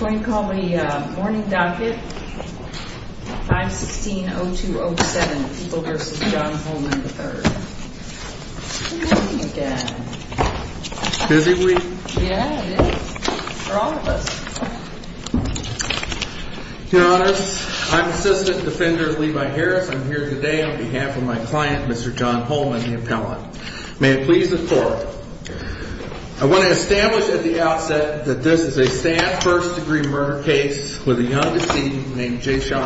going to call the morni 0207 people versus john H today on behalf of my cli the appellant. May it ple a staff first degree murd young decedent named Jason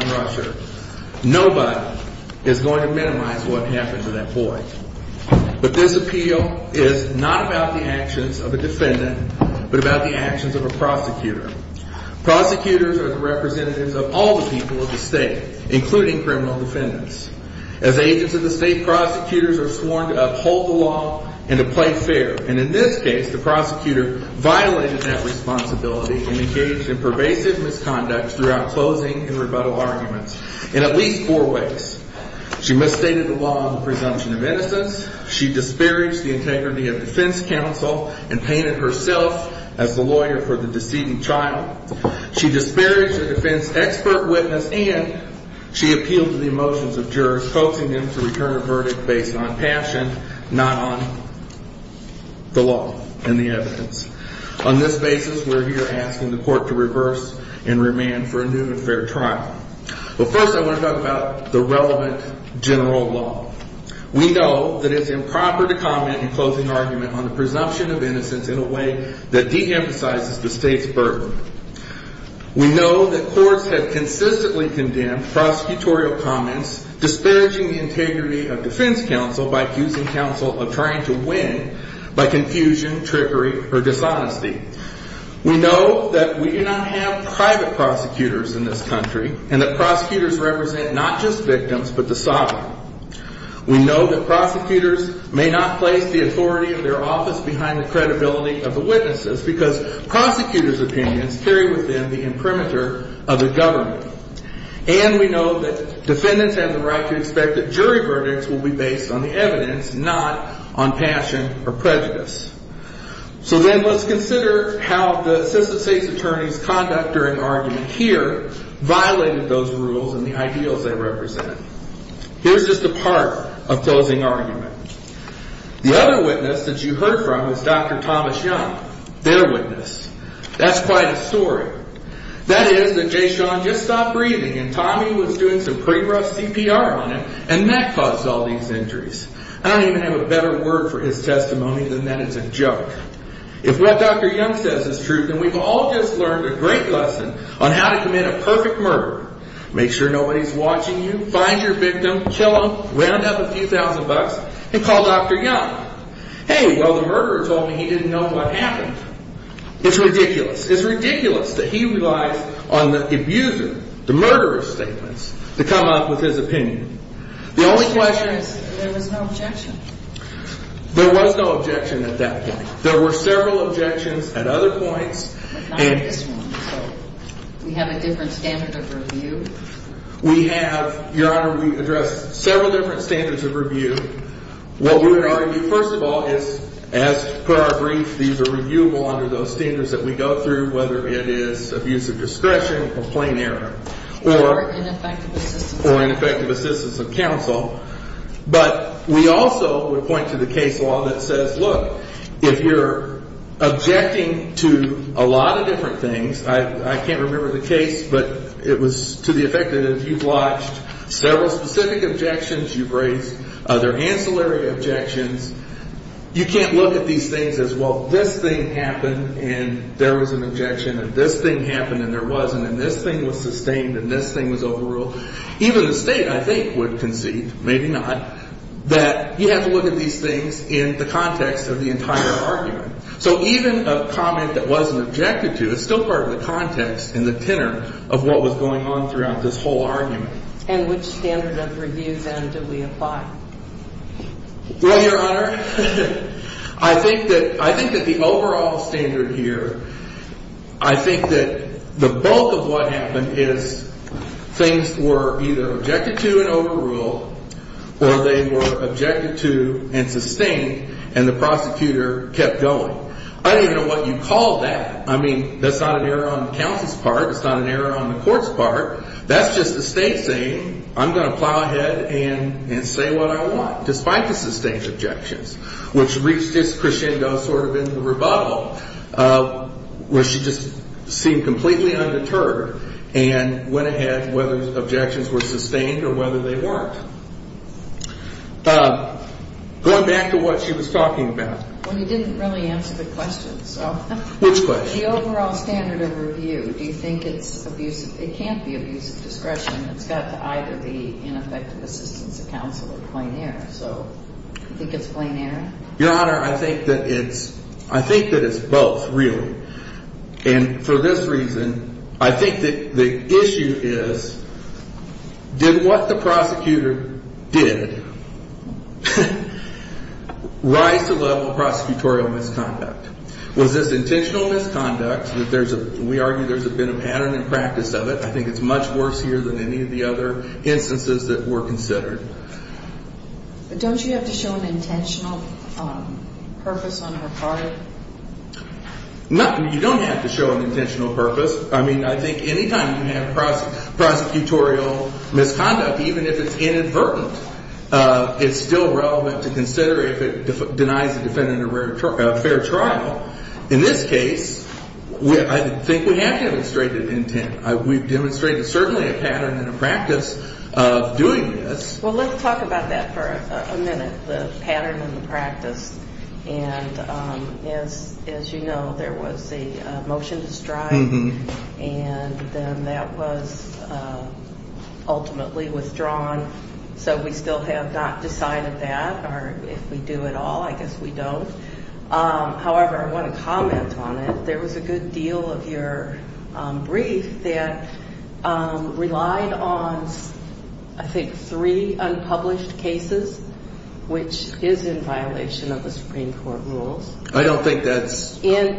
But this appeal is not ab of a defendant, but about prosecutor. Prosecutors a of all the people of the defendants. As agents of are sworn to uphold the l And in this case, the pro that responsibility and e misconduct throughout clo arguments in at least fou the law on the presumption disparaged the integrity and painted herself as th trial. She disparaged the and she appealed to the e coaxing them to return a not on the law and the ev we're here asking the cour for a new and fair trial. to talk about the relevant know that it's improper t argument on the presumpti a way that deemphasizes t We know that courts have prosecutorial comments, d the integrity of defense counsel of trying to win or dishonesty. We know th private prosecutors in th prosecutors represent not the sovereign. We know th may not place the authori behind the credibility of prosecutors opinions carr of the government. And we have the right to expect will be based on the evid or prejudice. So then let the assistant state's att argument here violated th they represent. Here's ju argument. The other witne from is dr thomas young, quite a story. That is th and Tommy was doing some on him and that caused al I don't even have a bette than that is a joke. If w is true, then we've all j lesson on how to commit a sure nobody's watching yo kill him, wound up a few dr young. Hey, well, the he didn't know what happe ridiculous. It's ridicul on the abuser, the murder up with his opinion. The was no objection. There w at that point. There were at other points. We have of review. We have your h several different standar we're going to argue. Fir per our brief, these are those standards that we g it is abuse of discretion or ineffective or ineffe council. But we also woul law that says, look, if y a lot of different things the case, but it was to t watched several specific raised other ancillary ob You can't look at these t thing happened and there this thing happened and t thing was sustained and t overruled. Even the state Maybe not that you have t in the context of the ent a comment that wasn't obj part of the context in th was going on throughout t And which standard of rev apply? Well, your honor, that the overall standard the bulk of what happened objected to an overrule o to and sustained and the going. I don't even know I mean, that's not an err part. It's not an error o That's just the state say ahead and say what I want objections, which reached of in the rebuttal, uh, w completely undeterred and objections were sustained weren't. Uh, going back t about when you didn't rea So which was the overall Do you think it's abusive can't be abusive discreti the ineffective assistance error. So I think it's pla I think that it's, I thin really. And for this reaso issue is, did what the pro to level prosecutorial mis intentional misconduct? Th there's been a pattern in I think it's much worse h other instances that were you have to show an intent her heart? No, you don't purpose. I mean, I think prosecutorial misconduct Uh, it's still relevant t denies the defendant a fa In this case, I think we intent. We've demonstrate in the practice of doing about that for a minute. practice. And um, as, as the motion to strive and withdrawn. So we still ha that or if we do it all, I want to comment on it. of your brief that um, re three unpublished cases w of the Supreme Court rule in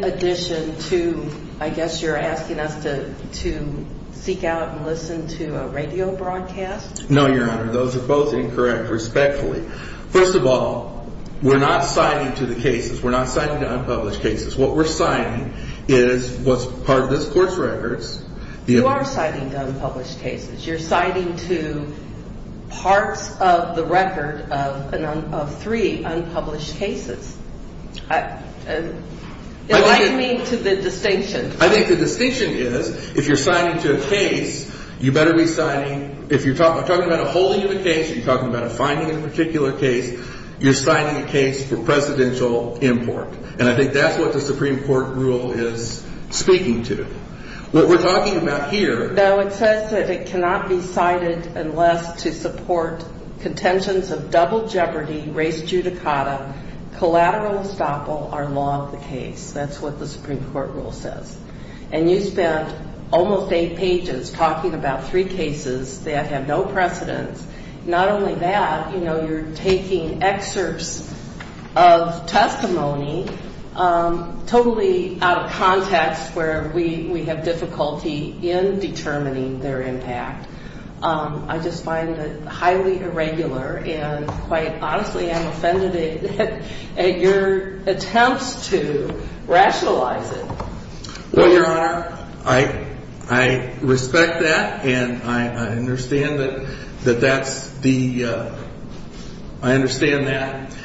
addition to, I guess y to seek out and listen to No, your honor. Those are respectfully. First of al to the cases. We're not s cases. What we're signing this court's records. You cases. You're citing to p of three unpublished case the distinction. I think if you're signing to a ca if you're talking about t case, you're talking abou case, you're signing a ca import. And I think that' court rule is speaking to about here, though, it sa cited unless to support c jeopardy, race judicata, are long the case. That's court rule says. And you eight pages talking about have no precedence. Not o you're taking excerpts of out of context where we w in determining their impa highly irregular and quit offended at your attempts rationalize it. Well, you that and I understand tha I understand that.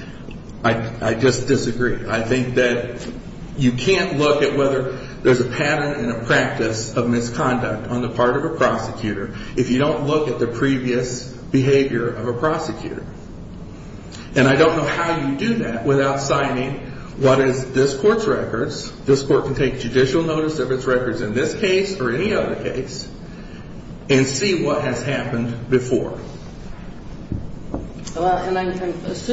I just that you can't look at wh in a practice of misconduct prosecutor. If you don't behavior of a prosecutor. And I don't know how you what is this court's reco judicial notice of its re or any other case and see before. Well, and I'm ass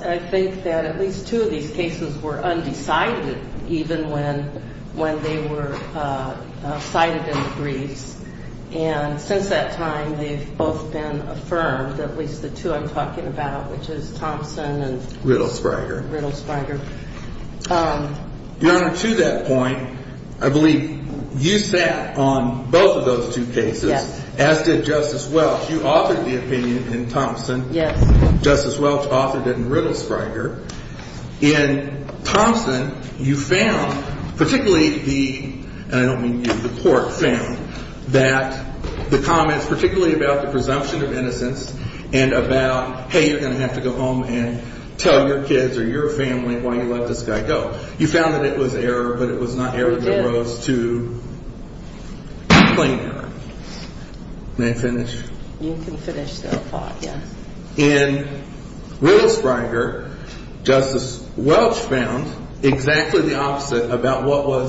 that at least two of these were undecided even when in the briefs. And since been affirmed, at least t about, which is Thompson Riddlespringer. Um, you'r I believe you sat on both as did Justice Welch. You in Thompson. Justice Welc Riddlespringer in Thompson the, I don't mean you, th the comments, particularl of innocence and about, h to go home and tell your why you let this guy go. error, but it was not err to claim. May I finish? Y thought. Yeah. In Riddles Welch found exactly the o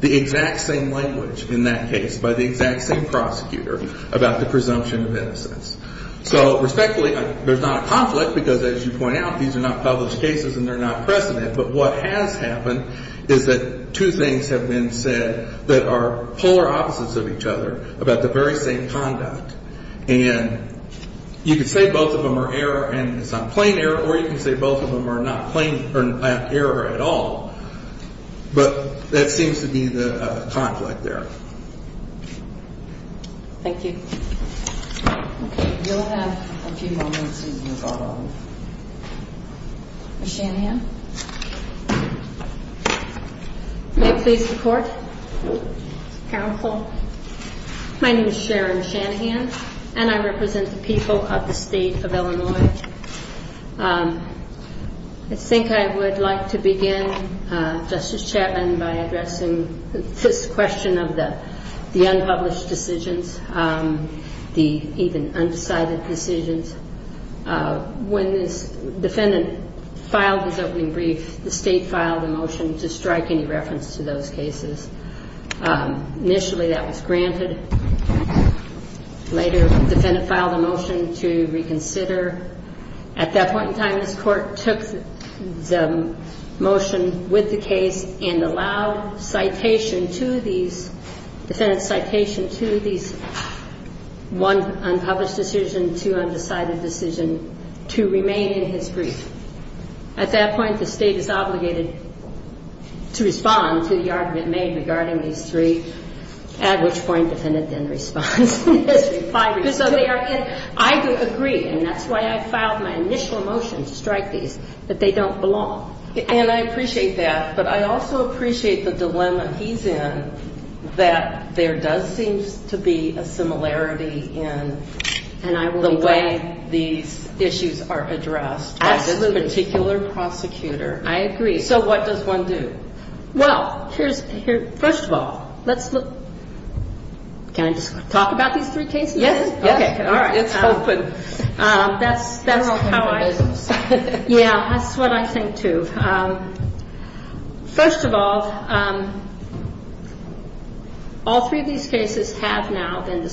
the exact same language i exact same prosecutor abo of innocence. So respectfu conflict because as you p not published cases and t But what has happened is have been said that are p of each other about the v and you can say both of t it's not plain error or y of them are not plain err that seems to be the conf you. You'll have a few mo please report. Counsel. M Shanahan and I represent of Illinois. Um I think I begin uh Justice Chapman of the unpublished decisi opening brief, the state strike any reference to t that was granted. Later, motion to reconsider at t this court took the motion allowed citation to these to these one unpublished decision to remain in his to respond to the argument these three at which poin in history. So they are, that's why I filed my ini these, that they don't be that. But I also appreciat he's in that there does s in the way these issues a prosecutor. I agree. So w here's here. First of all talk about these three ca open. Um that's that's ho I think too. Um First of these cases have now been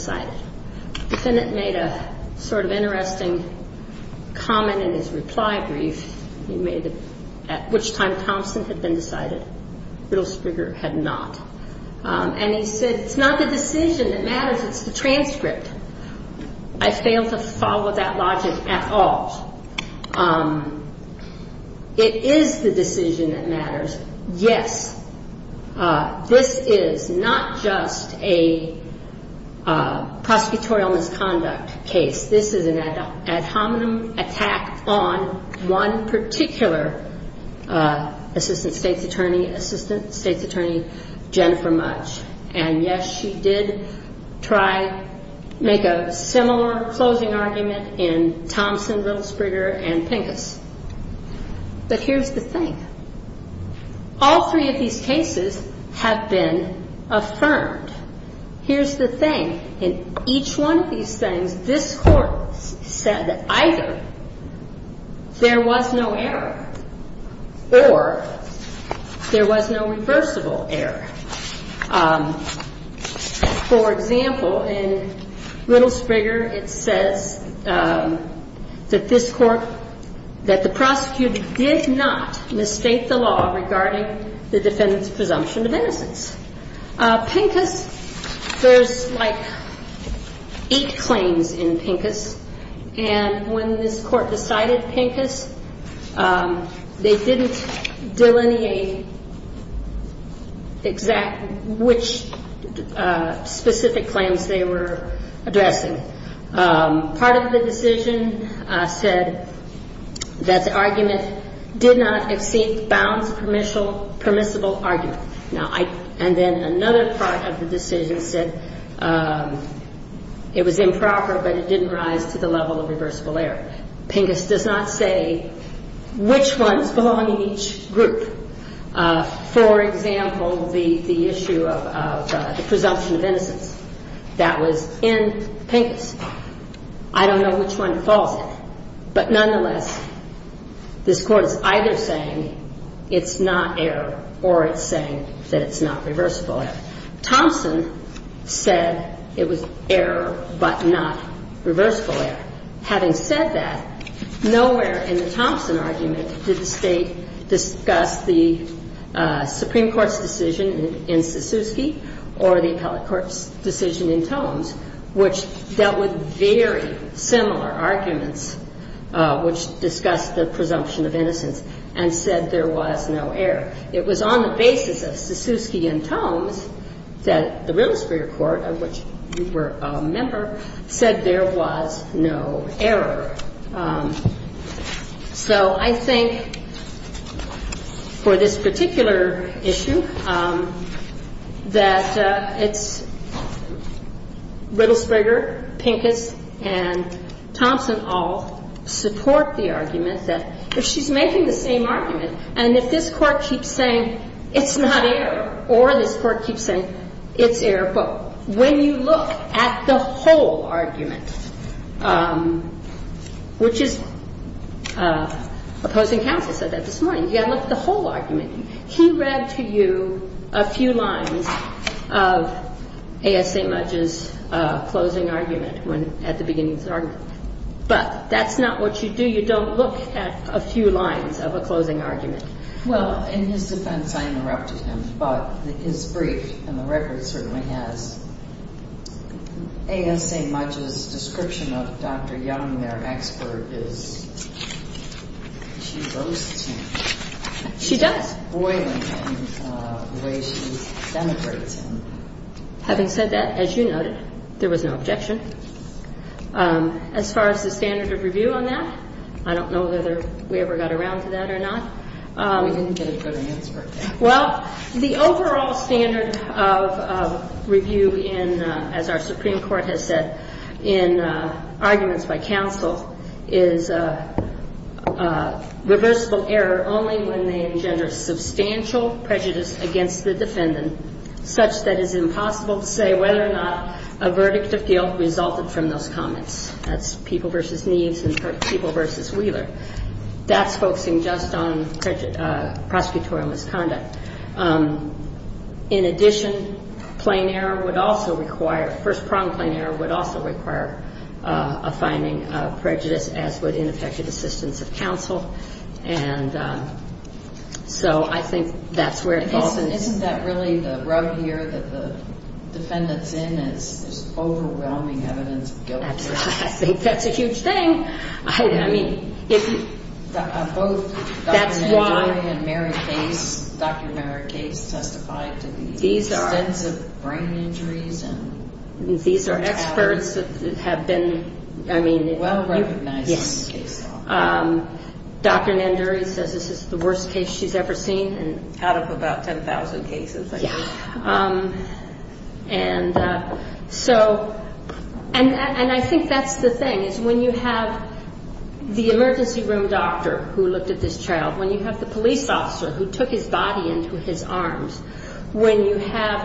made a sort of interestin reply brief. He made at w had been decided. Riddle he said it's not the deci It's the transcript. I fa logic at all. Um it is th Yes. Uh this is not just a prosecutorial misconduct ad hominem attack on one state's attorney, assista much. And yes, she did tr closing argument in Thoms and pinkis. But here's th Here's the thing. In each this court said that ithe or there was no reversibl in little Springer, it sa that the prosecutor did n regarding the defendant's innocence. Pinkis. There' in pinkis. And when this Um they didn't delineate claims they were addressi said that the argument di permissible argument. No part of the decision sai but it didn't rise to the error. Pinkis does not sa in each group. Uh for exa of the presumption of inno pinkis. I don't know whic But nonetheless, this cou it's not error or it's sa error. Thompson said it w reversible. Having said t argument, did the state d court's decision in Sissu court's decision in Tomes very similar arguments wh of innocence and said the was on the basis of Sissu the realist for your cour member said there was no this particular issue, th it's Riddles Springer, Pi all support the argument the same argument and if it's not air or this court air. But when you look at Um which is uh opposing c this morning, you gotta l He read to you a few line is a closing argument whe argument, but that's not don't look at a few lines Well, in his defense, I i is brief and the record c much as description of dr their expert is, she boas him the way she's democra as you noted, there was n far as the standard of re know whether we ever got not. We didn't get a good the overall standard of r has said in arguments by error only when they engen against the defendant, su to say whether or not a v from those comments. That and people versus Wheeler just on prosecutorial mis In addition, plain error first prong plain error w of prejudice as with ine of counsel. And so I thin isn't that really the rou in is overwhelming eviden that's a huge thing. I mea that's why Mary face dr m are extensive brain injur that have been, I mean, w Um, Dr Nanduri says this she's ever seen and out o I guess. Um, and uh, so a the thing is when you hav room doctor who looked at you have the police offic into his arms. When you h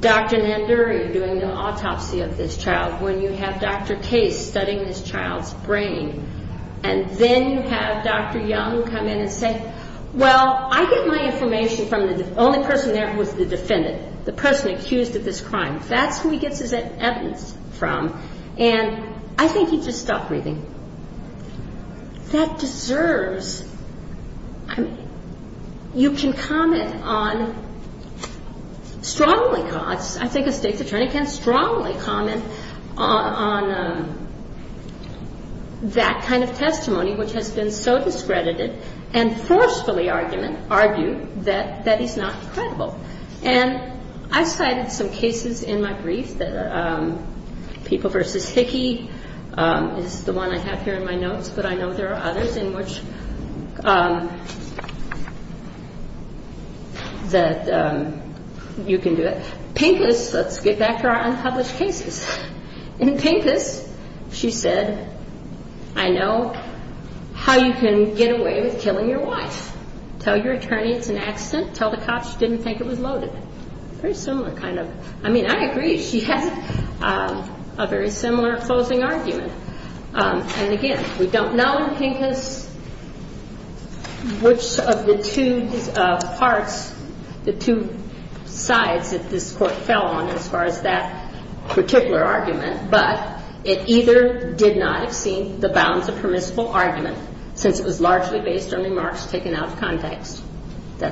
doing the autopsy of this Dr Case studying this chi then you have Dr Young co I get my information from there was the defendant, of this crime. That's who And I think he just stopp deserves. I mean, you can cause. I think a state att comment on that kind of t been so discredited and f argue that that is not cr And I cited some cases in versus Hickey is the one notes, but I know there a Um, that, um, you can do back to our unpublished c She said, I know how you killing your wife. Tell y an accident. Tell the cop was loaded. Very similar I agree. She had a very s Um, and again, we don't k of the two parts, the two court fell on as far as t But it either did not hav permissible argument sinc taken out of context. Tha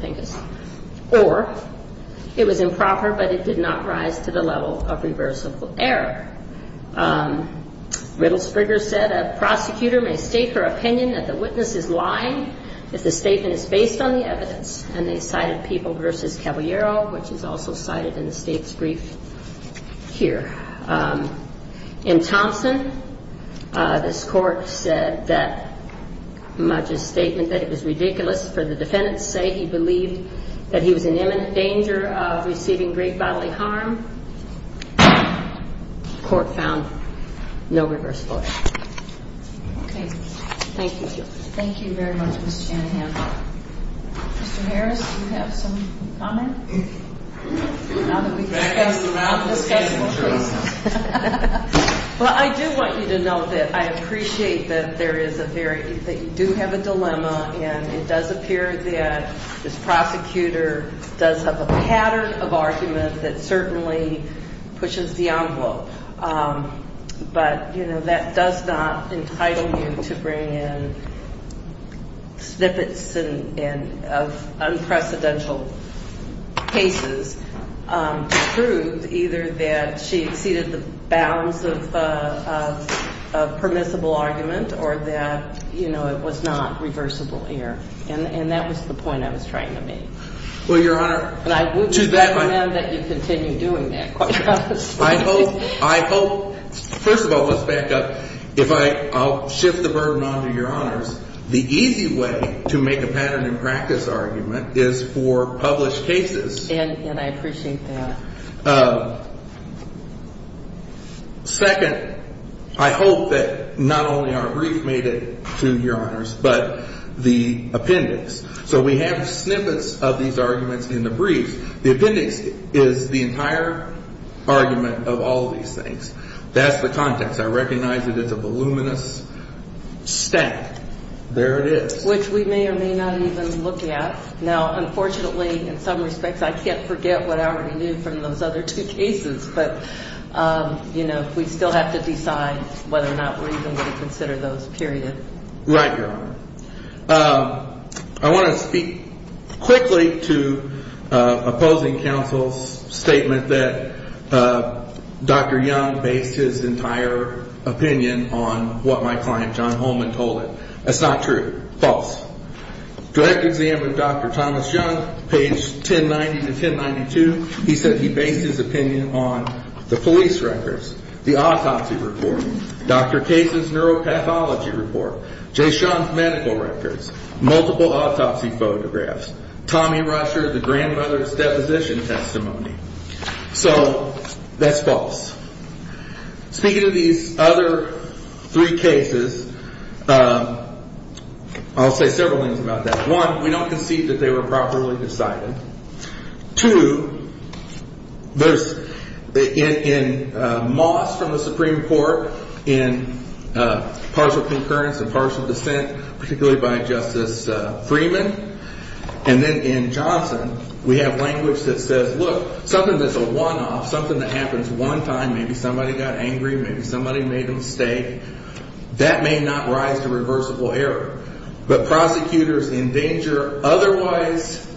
thing is, or it was impro rise to the level of rever Springer said a prosecute that the witness is lying based on the evidence and versus Caballero, which i much a statement that it the defendants say he bel danger of receiving great found no reverse. Okay. T you very much. Mr Hannah. some comment now that we please. Well, I do want y I appreciate that there i do have a dilemma and it prosecutor does have a pa that certainly pushes the you know, that does not e in snippets and of unprece um, proved either that sh of uh, of permissible arg it was not reversible hea the point I was trying to I would recommend that yo that. I hope, I hope firs if I, I'll shift the burd The easy way to make a pa is for published cases. A that. Uh, second, I hope brief made it to your hon So we have snippets of th the brief. The appendix i of all of these things. T I recognize that it's a v stack. There it is, which even look at now. Unfortu I can't forget what I alr other two cases. But um, have to decide whether or those period. Right. Uh, to opposing counsel's sta young based his entire op client john Holman told i false direct examined dr 10 90 to 10 92. He said h on the police records, th cases, neuropathology rep records, multiple autopsy rusher, the grandmother's testimony. So that's fals other three cases. Uh, I' about that. One, we don't were properly decided to Moss from the Supreme Cou and partial dissent, partic Freeman. And then in Jonc language that says, look, one off, something that h somebody got angry, mayb mistake that may not rise But prosecutors in danger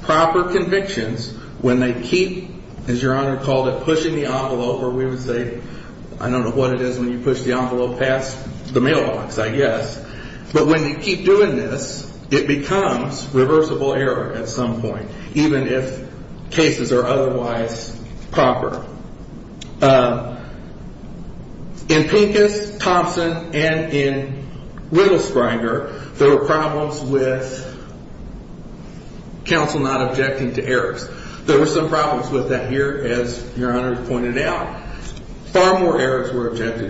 convictions when they kee it, pushing the envelope. don't know what it is whe past the mailbox, I guess doing this, it becomes re at some point, even if ca proper. Uh, in pinkest, T Springer, there were prob not objecting to errors. with that here, as your h more errors were objected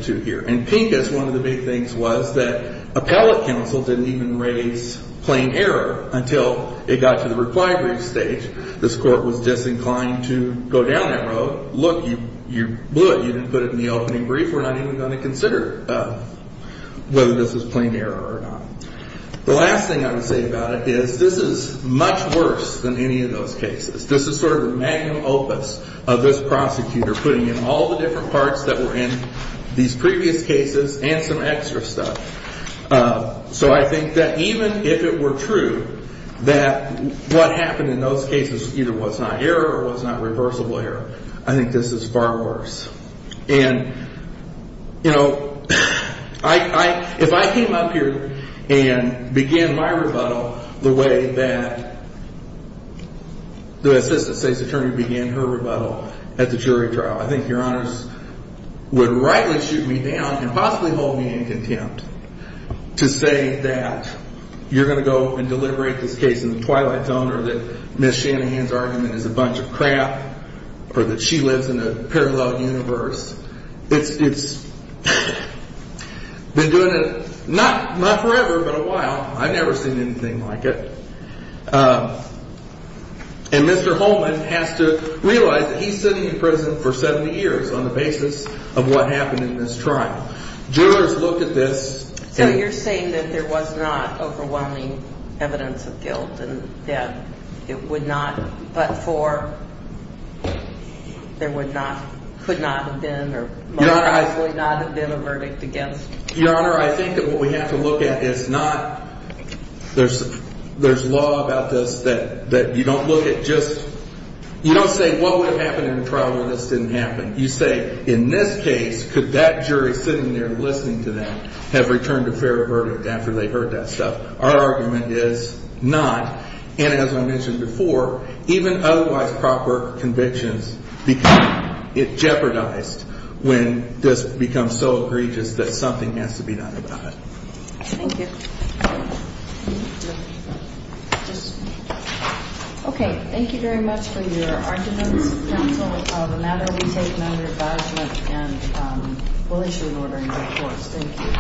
one of the big things was didn't even raise plain e to the required brief sta disinclined to go down th blew it. You didn't put i We're not even going to c this is plain error or no I would say about it is t than any of those cases. of this prosecutor, putti parts that were in these cases and some extra stuf that even if it were true in those cases, either wh not reversible error. I t And you know, I, if I cam my rebuttal the way that attorney began her rebutt I think your honors would down and possibly hold me that you're going to go a case in the twilight zone argument is a bunch of cr in a parallel universe. I it not forever, but a whi anything like it. Uh, and has to realize that he's for 70 years on the basis this trial, jurors look a that there was not overwh guilt and that it would n not could not have been o that what we have to look not, there's, there's law you don't look at just, y would have happened in a happened. You say in this sitting there listening t a fair verdict after they Our argument is not. And even otherwise proper con jeopardized when this bec something has to be done Thank you very much for y